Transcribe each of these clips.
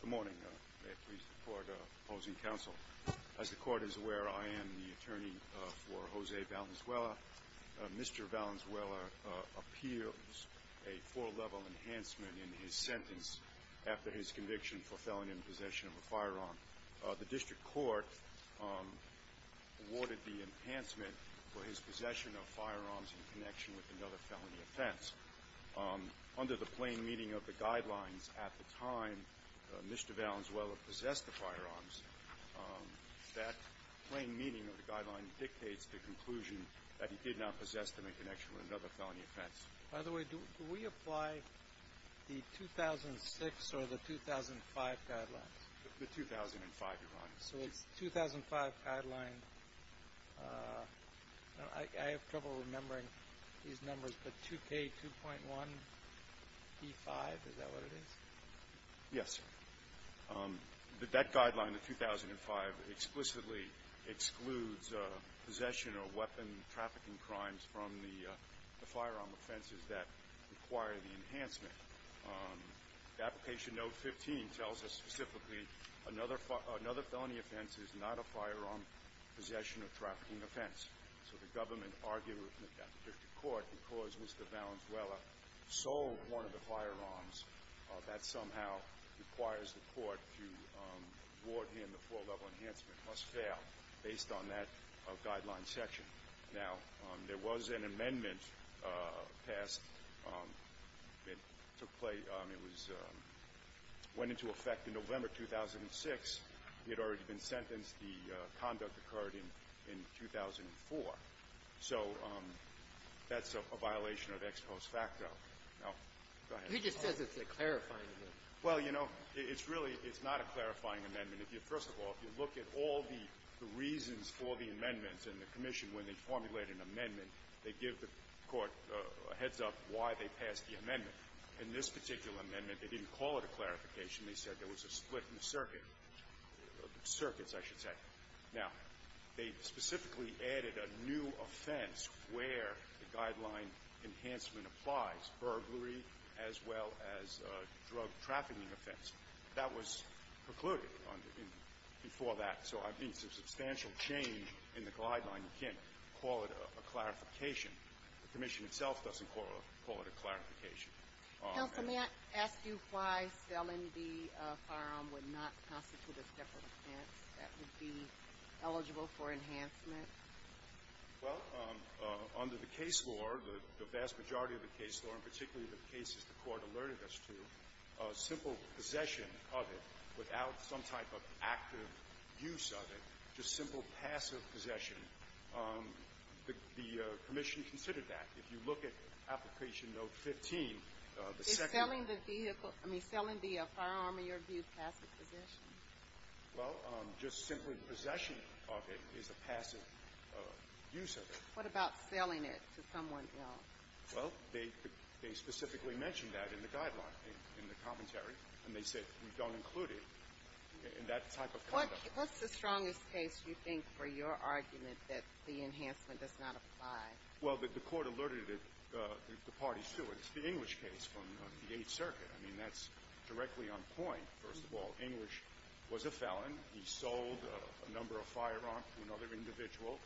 Good morning. May it please the court opposing counsel. As the court is aware, I am the attorney for Jose Valenzuela. Mr. Valenzuela appeals a four-level enhancement in his sentence after his conviction for felony in possession of a firearm. The district court awarded the enhancement for his possession of firearms in connection with another felony offense. Under the plain meaning of the guidelines at the time Mr. Valenzuela possessed the firearms, that plain meaning of the guideline dictates the conclusion that he did not possess them in connection with another felony offense. By the way, do we apply the 2006 or the 2005 guidelines? The 2005 guidelines. So it's 2005 guideline. I have trouble remembering these numbers, but 2K2.1E5, is that what it is? Yes. That guideline, the 2005, explicitly excludes possession or weapon trafficking crimes from the firearm offenses that require the enhancement. Application note 15 tells us specifically another felony offense is not a firearm possession or trafficking offense. So the government argued with the district court because Mr. Valenzuela sold one of the firearms, that somehow requires the court to award him the four-level enhancement, must fail, based on that guideline section. Now, there was an amendment passed that took place. It was – went into effect in November 2006. He had already been sentenced. The conduct occurred in 2004. So that's a violation of ex post facto. Now, go ahead. He just says it's a clarifying amendment. Well, you know, it's really – it's not a clarifying amendment. If you – first of all, if you look at all the reasons for the amendments in the commission, when they formulate an amendment, they give the court a heads-up why they passed the amendment. In this particular amendment, they didn't call it a clarification. They said there was a split in the circuit – circuits, I should say. Now, they specifically added a new offense where the guideline enhancement applies, burglary as well as drug trafficking offense. That was precluded before that. So I mean, it's a substantial change in the guideline. You can't call it a clarification. The commission itself doesn't call it a clarification. Counsel, may I ask you why selling the firearm would not constitute a separate offense that would be eligible for enhancement? Well, under the case law, the vast majority of the case law, and particularly the cases the Court alerted us to, simple possession of it without some type of active use of it, just simple passive possession, the commission considered that. If you look at Application Note 15, the second – Is selling the vehicle – I mean, selling the firearm, in your view, passive possession? Well, just simply possession of it is a passive use of it. What about selling it to someone else? Well, they specifically mentioned that in the guideline, in the commentary. And they said, we don't include it in that type of conduct. What's the strongest case you think for your argument that the enhancement does not apply? Well, the Court alerted the parties to it. It's the English case from the Eighth Circuit. I mean, that's directly on point. First of all, English was a felon. He sold a number of firearms to another individual.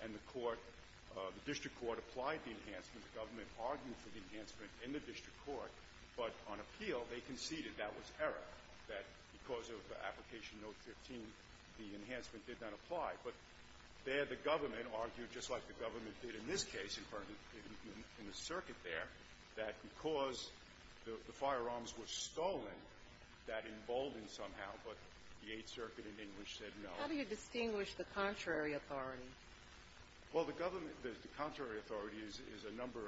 And the Court – the district court applied the enhancement. The government argued for the enhancement in the district court. But on appeal, they conceded that was error, that because of Application Note 15, the enhancement did not apply. But there the government argued, just like the government did in this case, in the circuit there, that because the firearms were stolen, that emboldened somehow. But the Eighth Circuit in English said no. How do you distinguish the contrary authority? Well, the government – the contrary authority is a number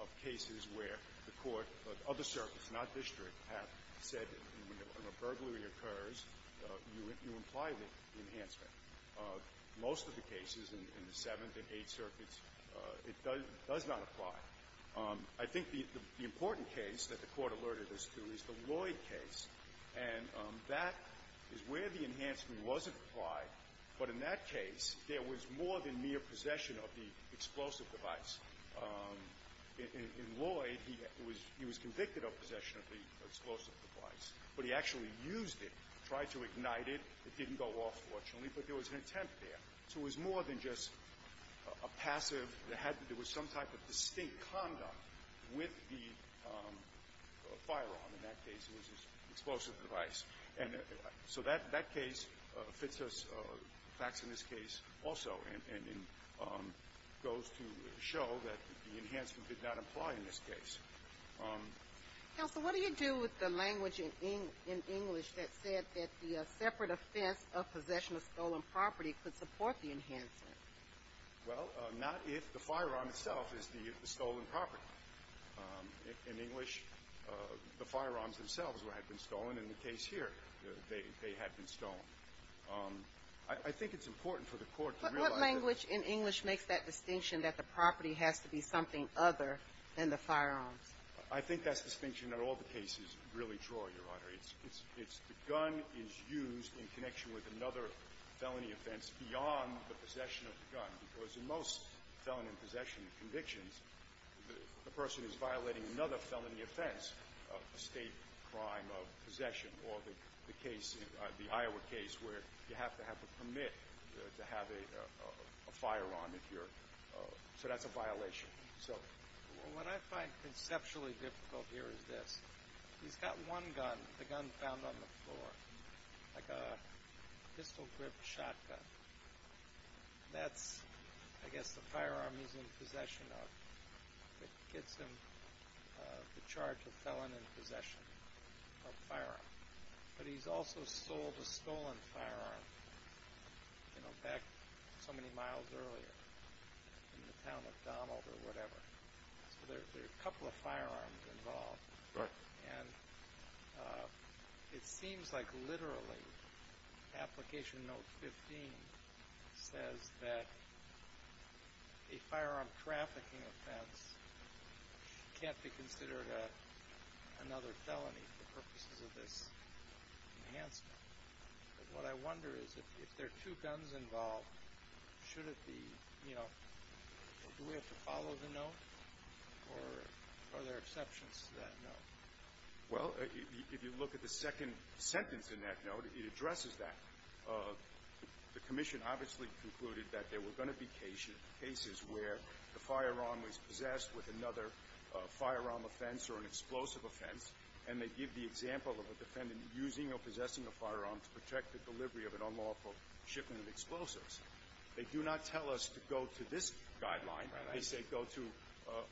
of cases where the Court of other circuits, not district, have said that when a burglary occurs, you imply the enhancement. Most of the cases in the Seventh and Eighth Circuits, it does not apply. I think the important case that the Court alerted us to is the Lloyd case. And that is where the enhancement was applied. But in that case, there was more than mere possession of the explosive device. In Lloyd, he was convicted of possession of the explosive device, but he actually used it, tried to ignite it. It didn't go off, fortunately, but there was an attempt there. So it was more than just a passive – there was some type of distinct conduct with the firearm. In that case, it was his explosive device. And so that case fits us – facts in this case also and goes to show that the enhancement did not apply in this case. Counsel, what do you do with the language in English that said that the separate offense of possession of stolen property could support the enhancement? Well, not if the firearm itself is the stolen property. In English, the firearms themselves had been stolen. In the case here, they had been stolen. I think it's important for the Court to realize that the – But what language in English makes that distinction, that the property has to be something other than the firearms? I think that's the distinction that all the cases really draw, Your Honor. The gun is used in connection with another felony offense beyond the possession of the gun, because in most felony possession convictions, the person is violating another felony offense, a state crime of possession, or the case – the Iowa case where you have to have a permit to have a fire on if you're – so that's a violation. So what I find conceptually difficult here is this. He's got one gun, the gun found on the floor, like a pistol-gripped shotgun. That's, I guess, the firearm he's in possession of. It gets him the charge of felony possession of a firearm. But he's also sold a stolen firearm, you know, back so many miles earlier in the town of McDonald or whatever. So there are a couple of firearms involved. Right. And it seems like literally Application Note 15 says that a firearm trafficking offense can't be considered another felony for purposes of this enhancement. What I wonder is if there are two guns involved, should it be, you know – do we have to follow the note, or are there exceptions to that note? Well, if you look at the second sentence in that note, it addresses that. The Commission obviously concluded that there were going to be cases where the firearm was possessed with another firearm offense or an explosive offense, and they give the example of a defendant using or possessing a firearm to protect the delivery of an unlawful shipment of explosives. They do not tell us to go to this guideline. They say go to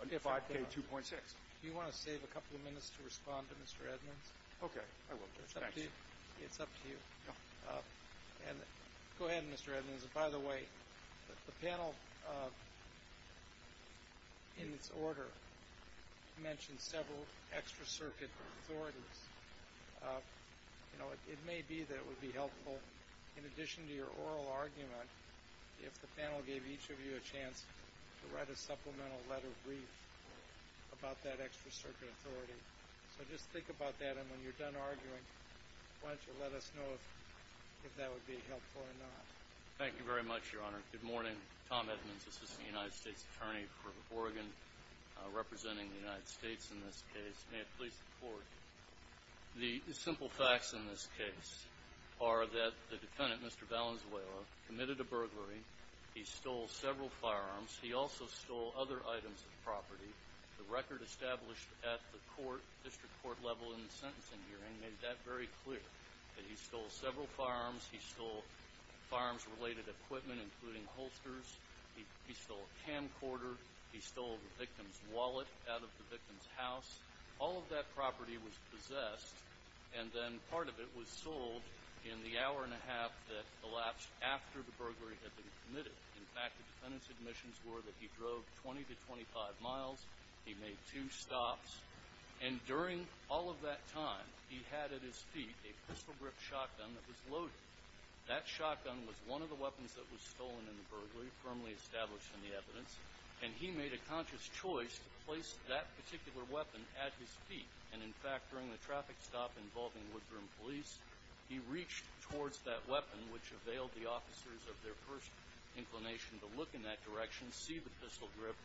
5K2.6. Do you want to save a couple of minutes to respond to Mr. Edmonds? Okay. I will, Judge. Thanks. It's up to you. Go ahead, Mr. Edmonds. By the way, the panel, in its order, mentioned several extra-circuit authorities. You know, it may be that it would be helpful, in addition to your oral argument, if the panel gave each of you a chance to write a supplemental letter brief about that extra-circuit authority. So just think about that, and when you're done arguing, why don't you let us know if that would be helpful or not. Thank you very much, Your Honor. Good morning. Tom Edmonds, Assistant United States Attorney for Oregon, representing the United States in this case. May it please the Court. The simple facts in this case are that the defendant, Mr. Valenzuela, committed a burglary. He stole several firearms. He also stole other items of property. The record established at the court, district court level in the sentencing hearing, made that very clear, that he stole several firearms. He stole firearms-related equipment, including holsters. He stole a camcorder. He stole the victim's wallet out of the victim's house. All of that property was possessed, and then part of it was sold in the hour and a half that elapsed after the burglary had been committed. In fact, the defendant's admissions were that he drove 20 to 25 miles. He made two stops. And during all of that time, he had at his feet a pistol-grip shotgun that was loaded. That shotgun was one of the weapons that was stolen in the burglary, firmly established in the evidence, and he made a conscious choice to place that particular weapon at his feet. And, in fact, during the traffic stop involving Woodbroom Police, he reached towards that weapon, which availed the officers of their first inclination to look in that direction, see the pistol grip,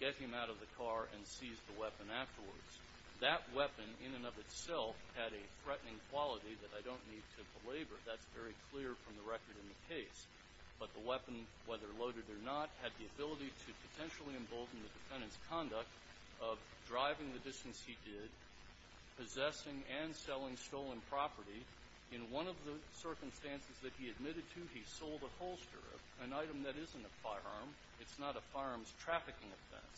get him out of the car, and seize the weapon afterwards. That weapon, in and of itself, had a threatening quality that I don't need to belabor. That's very clear from the record in the case. But the weapon, whether loaded or not, had the ability to potentially embolden the defendant's conduct of driving the distance he did, possessing and selling stolen property. In one of the circumstances that he admitted to, he sold a holster, an item that isn't a firearm. It's not a firearm's trafficking offense.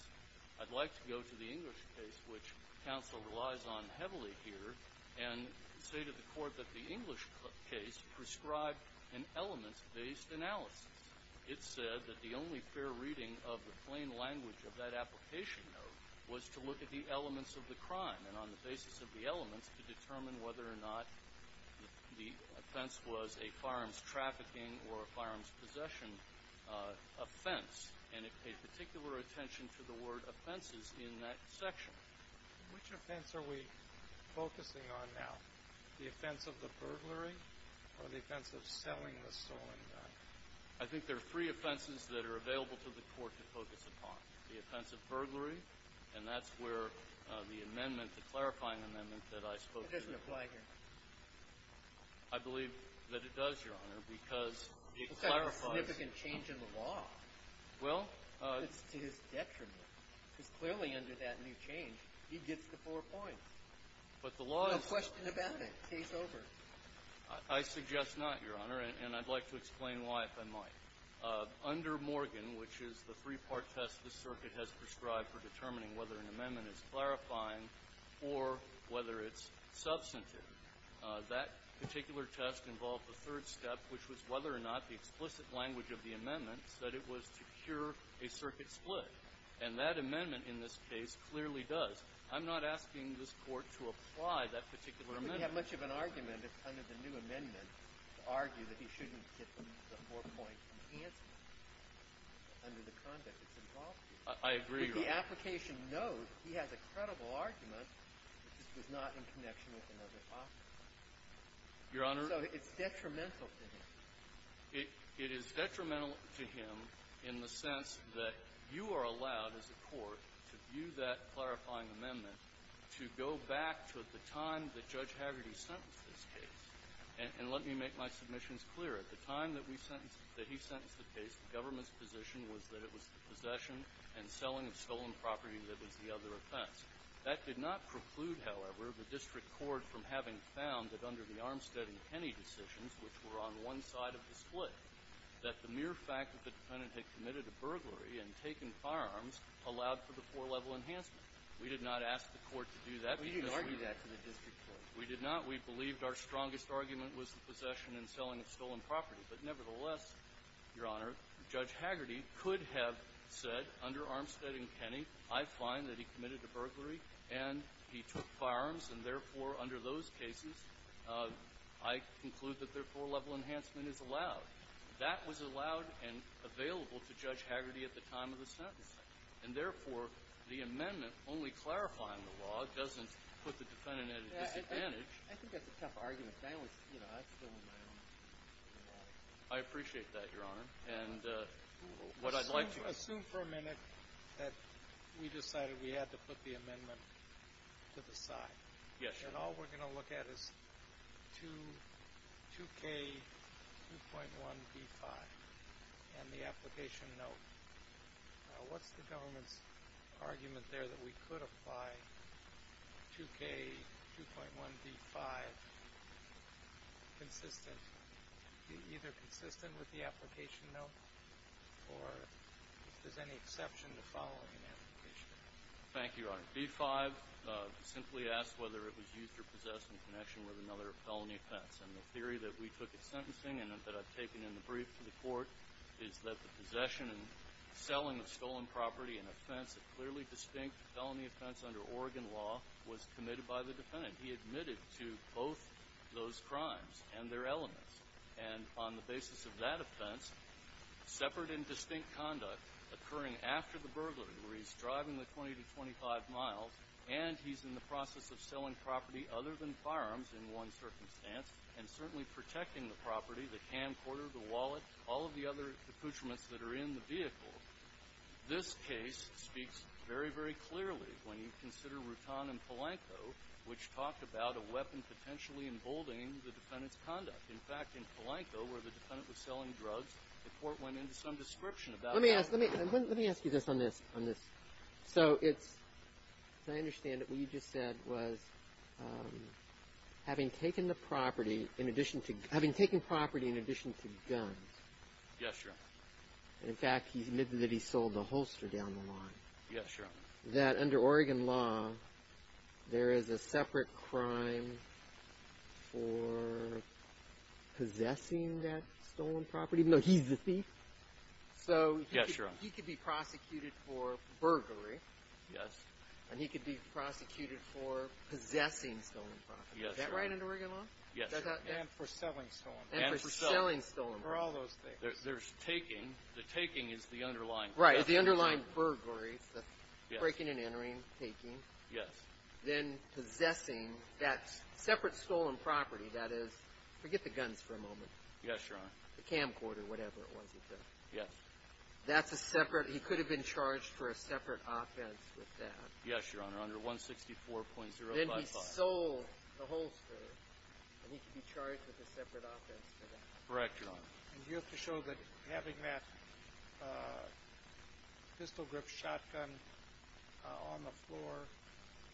I'd like to go to the English case, which counsel relies on heavily here, and say to the Court that the English case prescribed an elements-based analysis. It said that the only fair reading of the plain language of that application note was to look at the elements of the crime, and on the basis of the elements, to determine whether or not the offense was a firearms trafficking or a firearms possession offense. And it paid particular attention to the word offenses in that section. Which offense are we focusing on now? The offense of the burglary or the offense of selling the stolen gun? I think there are three offenses that are available to the Court to focus upon. The offense of burglary, and that's where the amendment, the clarifying amendment that I spoke to. It doesn't apply here. I believe that it does, Your Honor, because it clarifies. It's a significant change in the law. Well. It's to his detriment. Because clearly under that new change, he gets the four points. But the law is. No question about it. Case over. I suggest not, Your Honor, and I'd like to explain why, if I might. Under Morgan, which is the three-part test the circuit has prescribed for determining whether an amendment is clarifying or whether it's substantive, that particular test involved the third step, which was whether or not the explicit language of the amendment said it was to cure a circuit split. And that amendment in this case clearly does. I'm not asking this Court to apply that particular amendment. We don't have much of an argument under the new amendment to argue that he shouldn't get the four-point enhancement under the conduct it's involved in. I agree, Your Honor. But the application knows he has a credible argument that this was not in connection with another offense. Your Honor. So it's detrimental to him. It is detrimental to him in the sense that you are allowed as a court to view that judge Hagerty sentenced this case. And let me make my submissions clear. At the time that we sentenced the case, the government's position was that it was the possession and selling of stolen property that was the other offense. That did not preclude, however, the district court from having found that under the Armstead and Penney decisions, which were on one side of the split, that the mere fact that the defendant had committed a burglary and taken firearms allowed for the four-level enhancement. We did not ask the court to do that because we were. We did not. We believed our strongest argument was the possession and selling of stolen property. But nevertheless, Your Honor, Judge Hagerty could have said under Armstead and Penney, I find that he committed a burglary and he took firearms, and therefore under those cases, I conclude that their four-level enhancement is allowed. That was allowed and available to Judge Hagerty at the time of the sentence. And therefore, the amendment only clarifying the law doesn't put the defendant at a disadvantage. I think that's a tough argument. I appreciate that, Your Honor. Assume for a minute that we decided we had to put the amendment to the side. Yes, Your Honor. And all we're going to look at is 2K2.1B5 and the application note. What's the government's argument there that we could apply 2K2.1B5 either consistent with the application note or if there's any exception to following an application? Thank you, Your Honor. B5 simply asks whether it was used or possessed in connection with another felony offense. And the theory that we took at sentencing and that I've taken in the brief to the court is that the possession and selling of stolen property and offense, a clearly distinct felony offense under Oregon law, was committed by the defendant. He admitted to both those crimes and their elements. And on the basis of that offense, separate and distinct conduct occurring after the burglary where he's driving the 20 to 25 miles and he's in the process of selling property other than firearms in one circumstance and certainly protecting the property, the camcorder, the wallet, all of the other accoutrements that are in the vehicle, this case speaks very, very clearly when you consider Rutan and Palenco, which talked about a weapon potentially emboldening the defendant's conduct. In fact, in Palenco where the defendant was selling drugs, the court went into some description about that. Let me ask you this on this. So it's – as I understand it, what you just said was having taken the property in addition to guns. Yes, Your Honor. In fact, he admitted that he sold the holster down the line. Yes, Your Honor. That under Oregon law, there is a separate crime for possessing that stolen property, even though he's the thief? Yes, Your Honor. So he could be prosecuted for burglary. And he could be prosecuted for possessing stolen property. Yes, Your Honor. Is that right under Oregon law? Yes, Your Honor. And for selling stolen property. And for selling stolen property. For all those things. There's taking. The taking is the underlying theft. Right, the underlying burglary, the breaking and entering, taking. Yes. Then possessing that separate stolen property, that is – forget the guns for a moment. Yes, Your Honor. The camcorder, whatever it was he took. Yes. That's a separate – he could have been charged for a separate offense with that. Yes, Your Honor, under 164.055. And then he sold the holster, and he could be charged with a separate offense for that. Correct, Your Honor. And do you have to show that having that pistol grip shotgun on the floor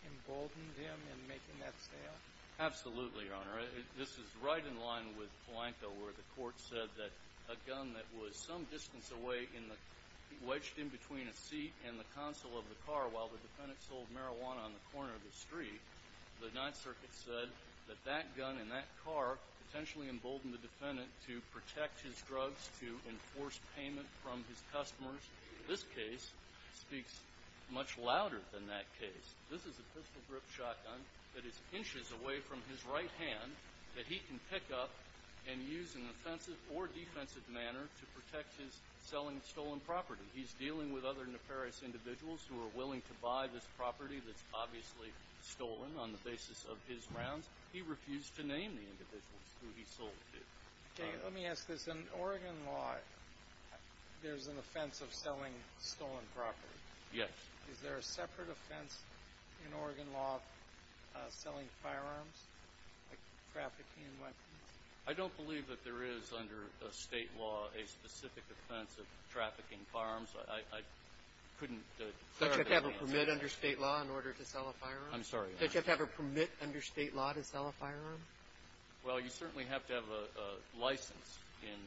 emboldened him in making that sale? Absolutely, Your Honor. This is right in line with Polanco, where the court said that a gun that was some distance away in the – while the defendant sold marijuana on the corner of the street, the Ninth Circuit said that that gun and that car potentially emboldened the defendant to protect his drugs, to enforce payment from his customers. This case speaks much louder than that case. This is a pistol grip shotgun that is inches away from his right hand that he can pick up and use in an offensive or defensive manner to protect his selling stolen property. He's dealing with other nefarious individuals who are willing to buy this property that's obviously stolen on the basis of his grounds. He refused to name the individuals who he sold it to. Jay, let me ask this. In Oregon law, there's an offense of selling stolen property. Yes. Is there a separate offense in Oregon law of selling firearms, like trafficking in weapons? I don't believe that there is under State law a specific offense of trafficking firearms. I couldn't answer that. Don't you have to have a permit under State law in order to sell a firearm? I'm sorry, Your Honor. Don't you have to have a permit under State law to sell a firearm? Well, you certainly have to have a license in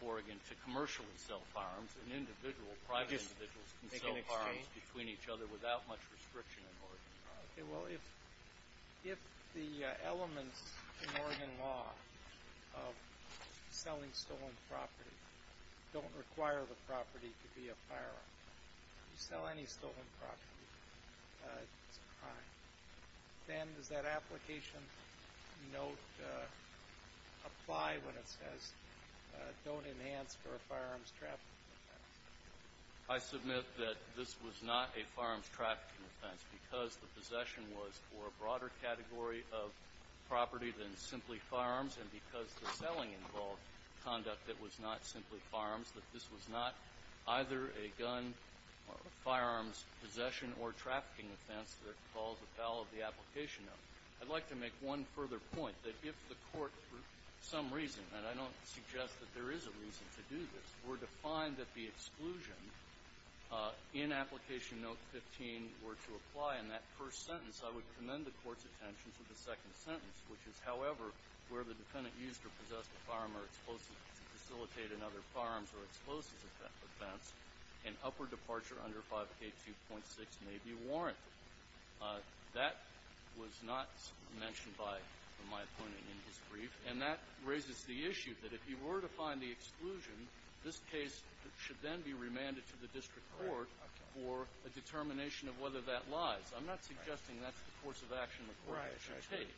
Oregon to commercially sell firearms. An individual, private individuals can sell firearms between each other without much restriction in Oregon law. Okay. Well, if the elements in Oregon law of selling stolen property don't require the property to be a firearm, you sell any stolen property, it's a crime. Then does that application note apply when it says don't enhance for a firearms trafficking offense? I submit that this was not a firearms trafficking offense because the possession was for a broader category of property than simply firearms, and because the selling involved conduct that was not simply firearms, that this was not either a gun or a firearms possession or trafficking offense that involves a fall of the application note. I'd like to make one further point, that if the Court, for some reason, and I don't suggest that there is a reason to do this, were to find that the exclusion in application note 15 were to apply in that first sentence, I would commend the Court's attention to the second sentence, which is, however, where the defendant used or possessed a firearm or explosives to facilitate another firearms or explosives offense, an upper departure under 5K2.6 may be warranted. That was not mentioned by my opponent in his brief. And that raises the issue that if he were to find the exclusion, this case should then be remanded to the district court for a determination of whether that lies. I'm not suggesting that's the course of action the Court should take.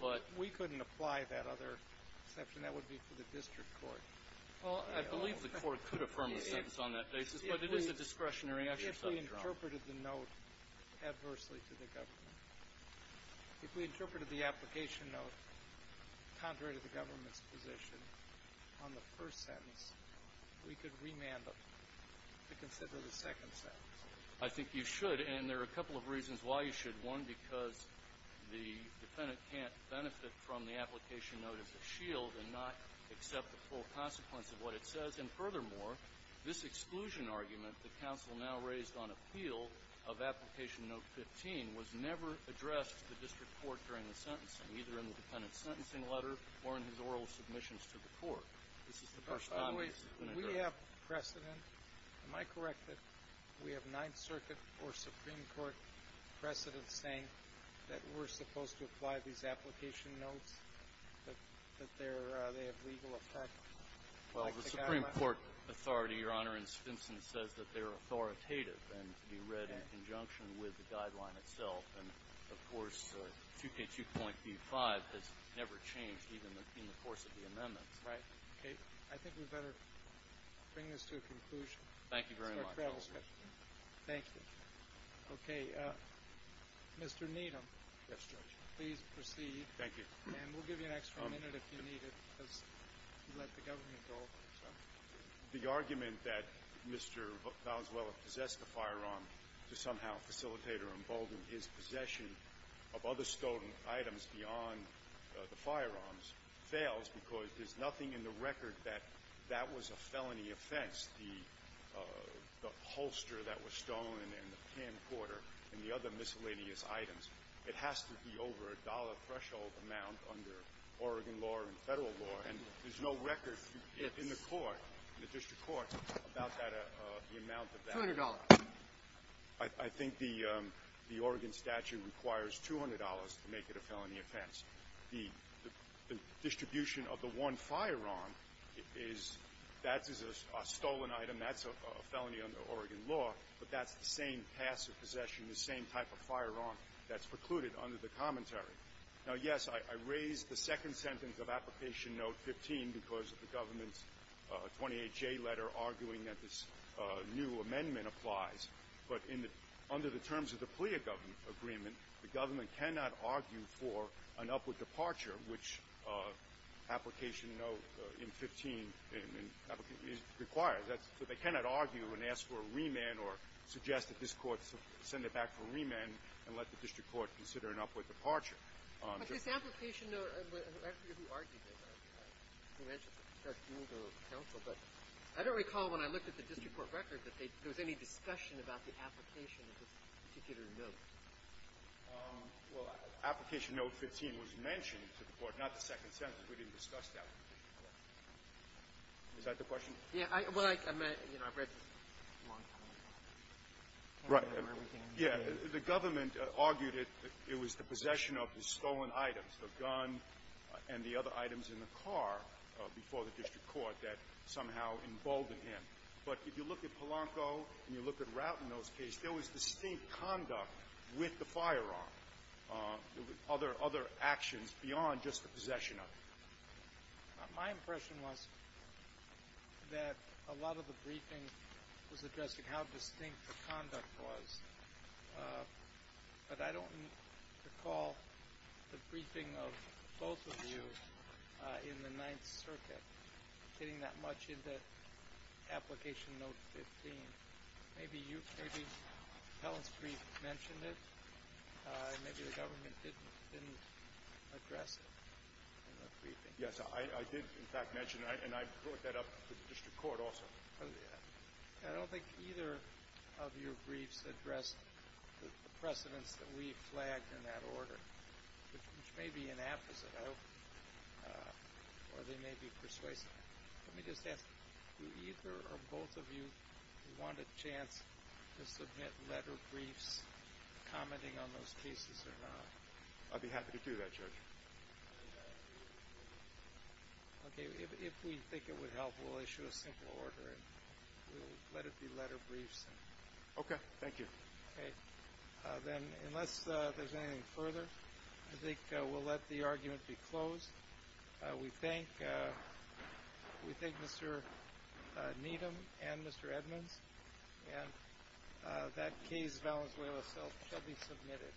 But we couldn't apply that other exception. That would be for the district court. Well, I believe the Court could affirm a sentence on that basis, but it is a discretionary exercise, Your Honor. If we interpreted the note adversely to the government, if we interpreted the application note contrary to the government's position on the first sentence, we could remand them to consider the second sentence. I think you should. And there are a couple of reasons why you should. One, because the defendant can't benefit from the application note as a shield and not accept the full consequence of what it says. And furthermore, this exclusion argument that counsel now raised on appeal of application note 15 was never addressed to the district court during the sentencing, either in the defendant's sentencing letter or in his oral submissions to the Court. This is the first time this has been addressed. We have precedent. Am I correct that we have Ninth Circuit or Supreme Court precedent saying that we're supposed to apply these application notes, that they're – they have legal effect like the government? Well, the Supreme Court authority, Your Honor, in Stinson says that they're authoritative and to be read in conjunction with the guideline itself. And, of course, 2K2.B5 has never changed even in the course of the amendments. Right. Okay. I think we'd better bring this to a conclusion. Thank you very much. Thank you. Okay. Mr. Needham. Yes, Judge. Please proceed. Thank you. And we'll give you an extra minute if you need it because you let the government go. The argument that Mr. Valenzuela possessed a firearm to somehow facilitate or embolden his possession of other stolen items beyond the firearms fails because there's nothing in the record that that was a felony offense, the holster that was stolen and the pan quarter and the other miscellaneous items. It has to be over a dollar threshold amount under Oregon law and Federal law. And there's no record in the court, in the district court, about that – the amount of that. Two hundred dollars. I think the Oregon statute requires $200 to make it a felony offense. The distribution of the one firearm is – that is a stolen item. That's a felony under Oregon law. But that's the same passive possession, the same type of firearm that's precluded under the commentary. Now, yes, I raised the second sentence of Application Note 15 because of the government's 28J letter arguing that this new amendment applies. But in the – under the terms of the PLEA agreement, the government cannot argue for an upward departure, which Application Note in 15 requires. That's – so they cannot argue and ask for a remand or suggest that this Court send it back for a remand and let the district court consider an upward departure. But this Application Note – I forget who argued it. I think I mentioned it to Judge Gould or counsel. But I don't recall when I looked at the district court record that they – there was any discussion about the application of this particular note. Well, Application Note 15 was mentioned to the court, not the second sentence. We didn't discuss that. Is that the question? Yeah. Well, I – you know, I've read this a long time ago. Right. Yeah. The government argued it was the possession of the stolen items, the gun and the other items in the car before the district court that somehow emboldened him. But if you look at Polanco and you look at Rout in those cases, there was distinct conduct with the firearm, other – other actions beyond just the possession of it. My impression was that a lot of the briefing was addressing how distinct the conduct was. But I don't recall the briefing of both of you in the Ninth Circuit getting that much into Application Note 15. Maybe you – maybe Helen's brief mentioned it. Maybe the government didn't address it in the briefing. Yes. I did, in fact, mention it, and I brought that up to the district court also. I don't think either of your briefs addressed the precedents that we flagged in that order, which may be an apposite, I hope, or they may be persuasive. Let me just ask, do either or both of you want a chance to submit letter briefs commenting on those cases or not? I'd be happy to do that, Judge. Okay. If we think it would help, we'll issue a simple order and we'll let it be letter briefs. Okay. Thank you. Okay. Then unless there's anything further, I think we'll let the argument be closed. We thank – we thank Mr. Needham and Mr. Edmonds. And that case, Valenzuela itself, shall be submitted.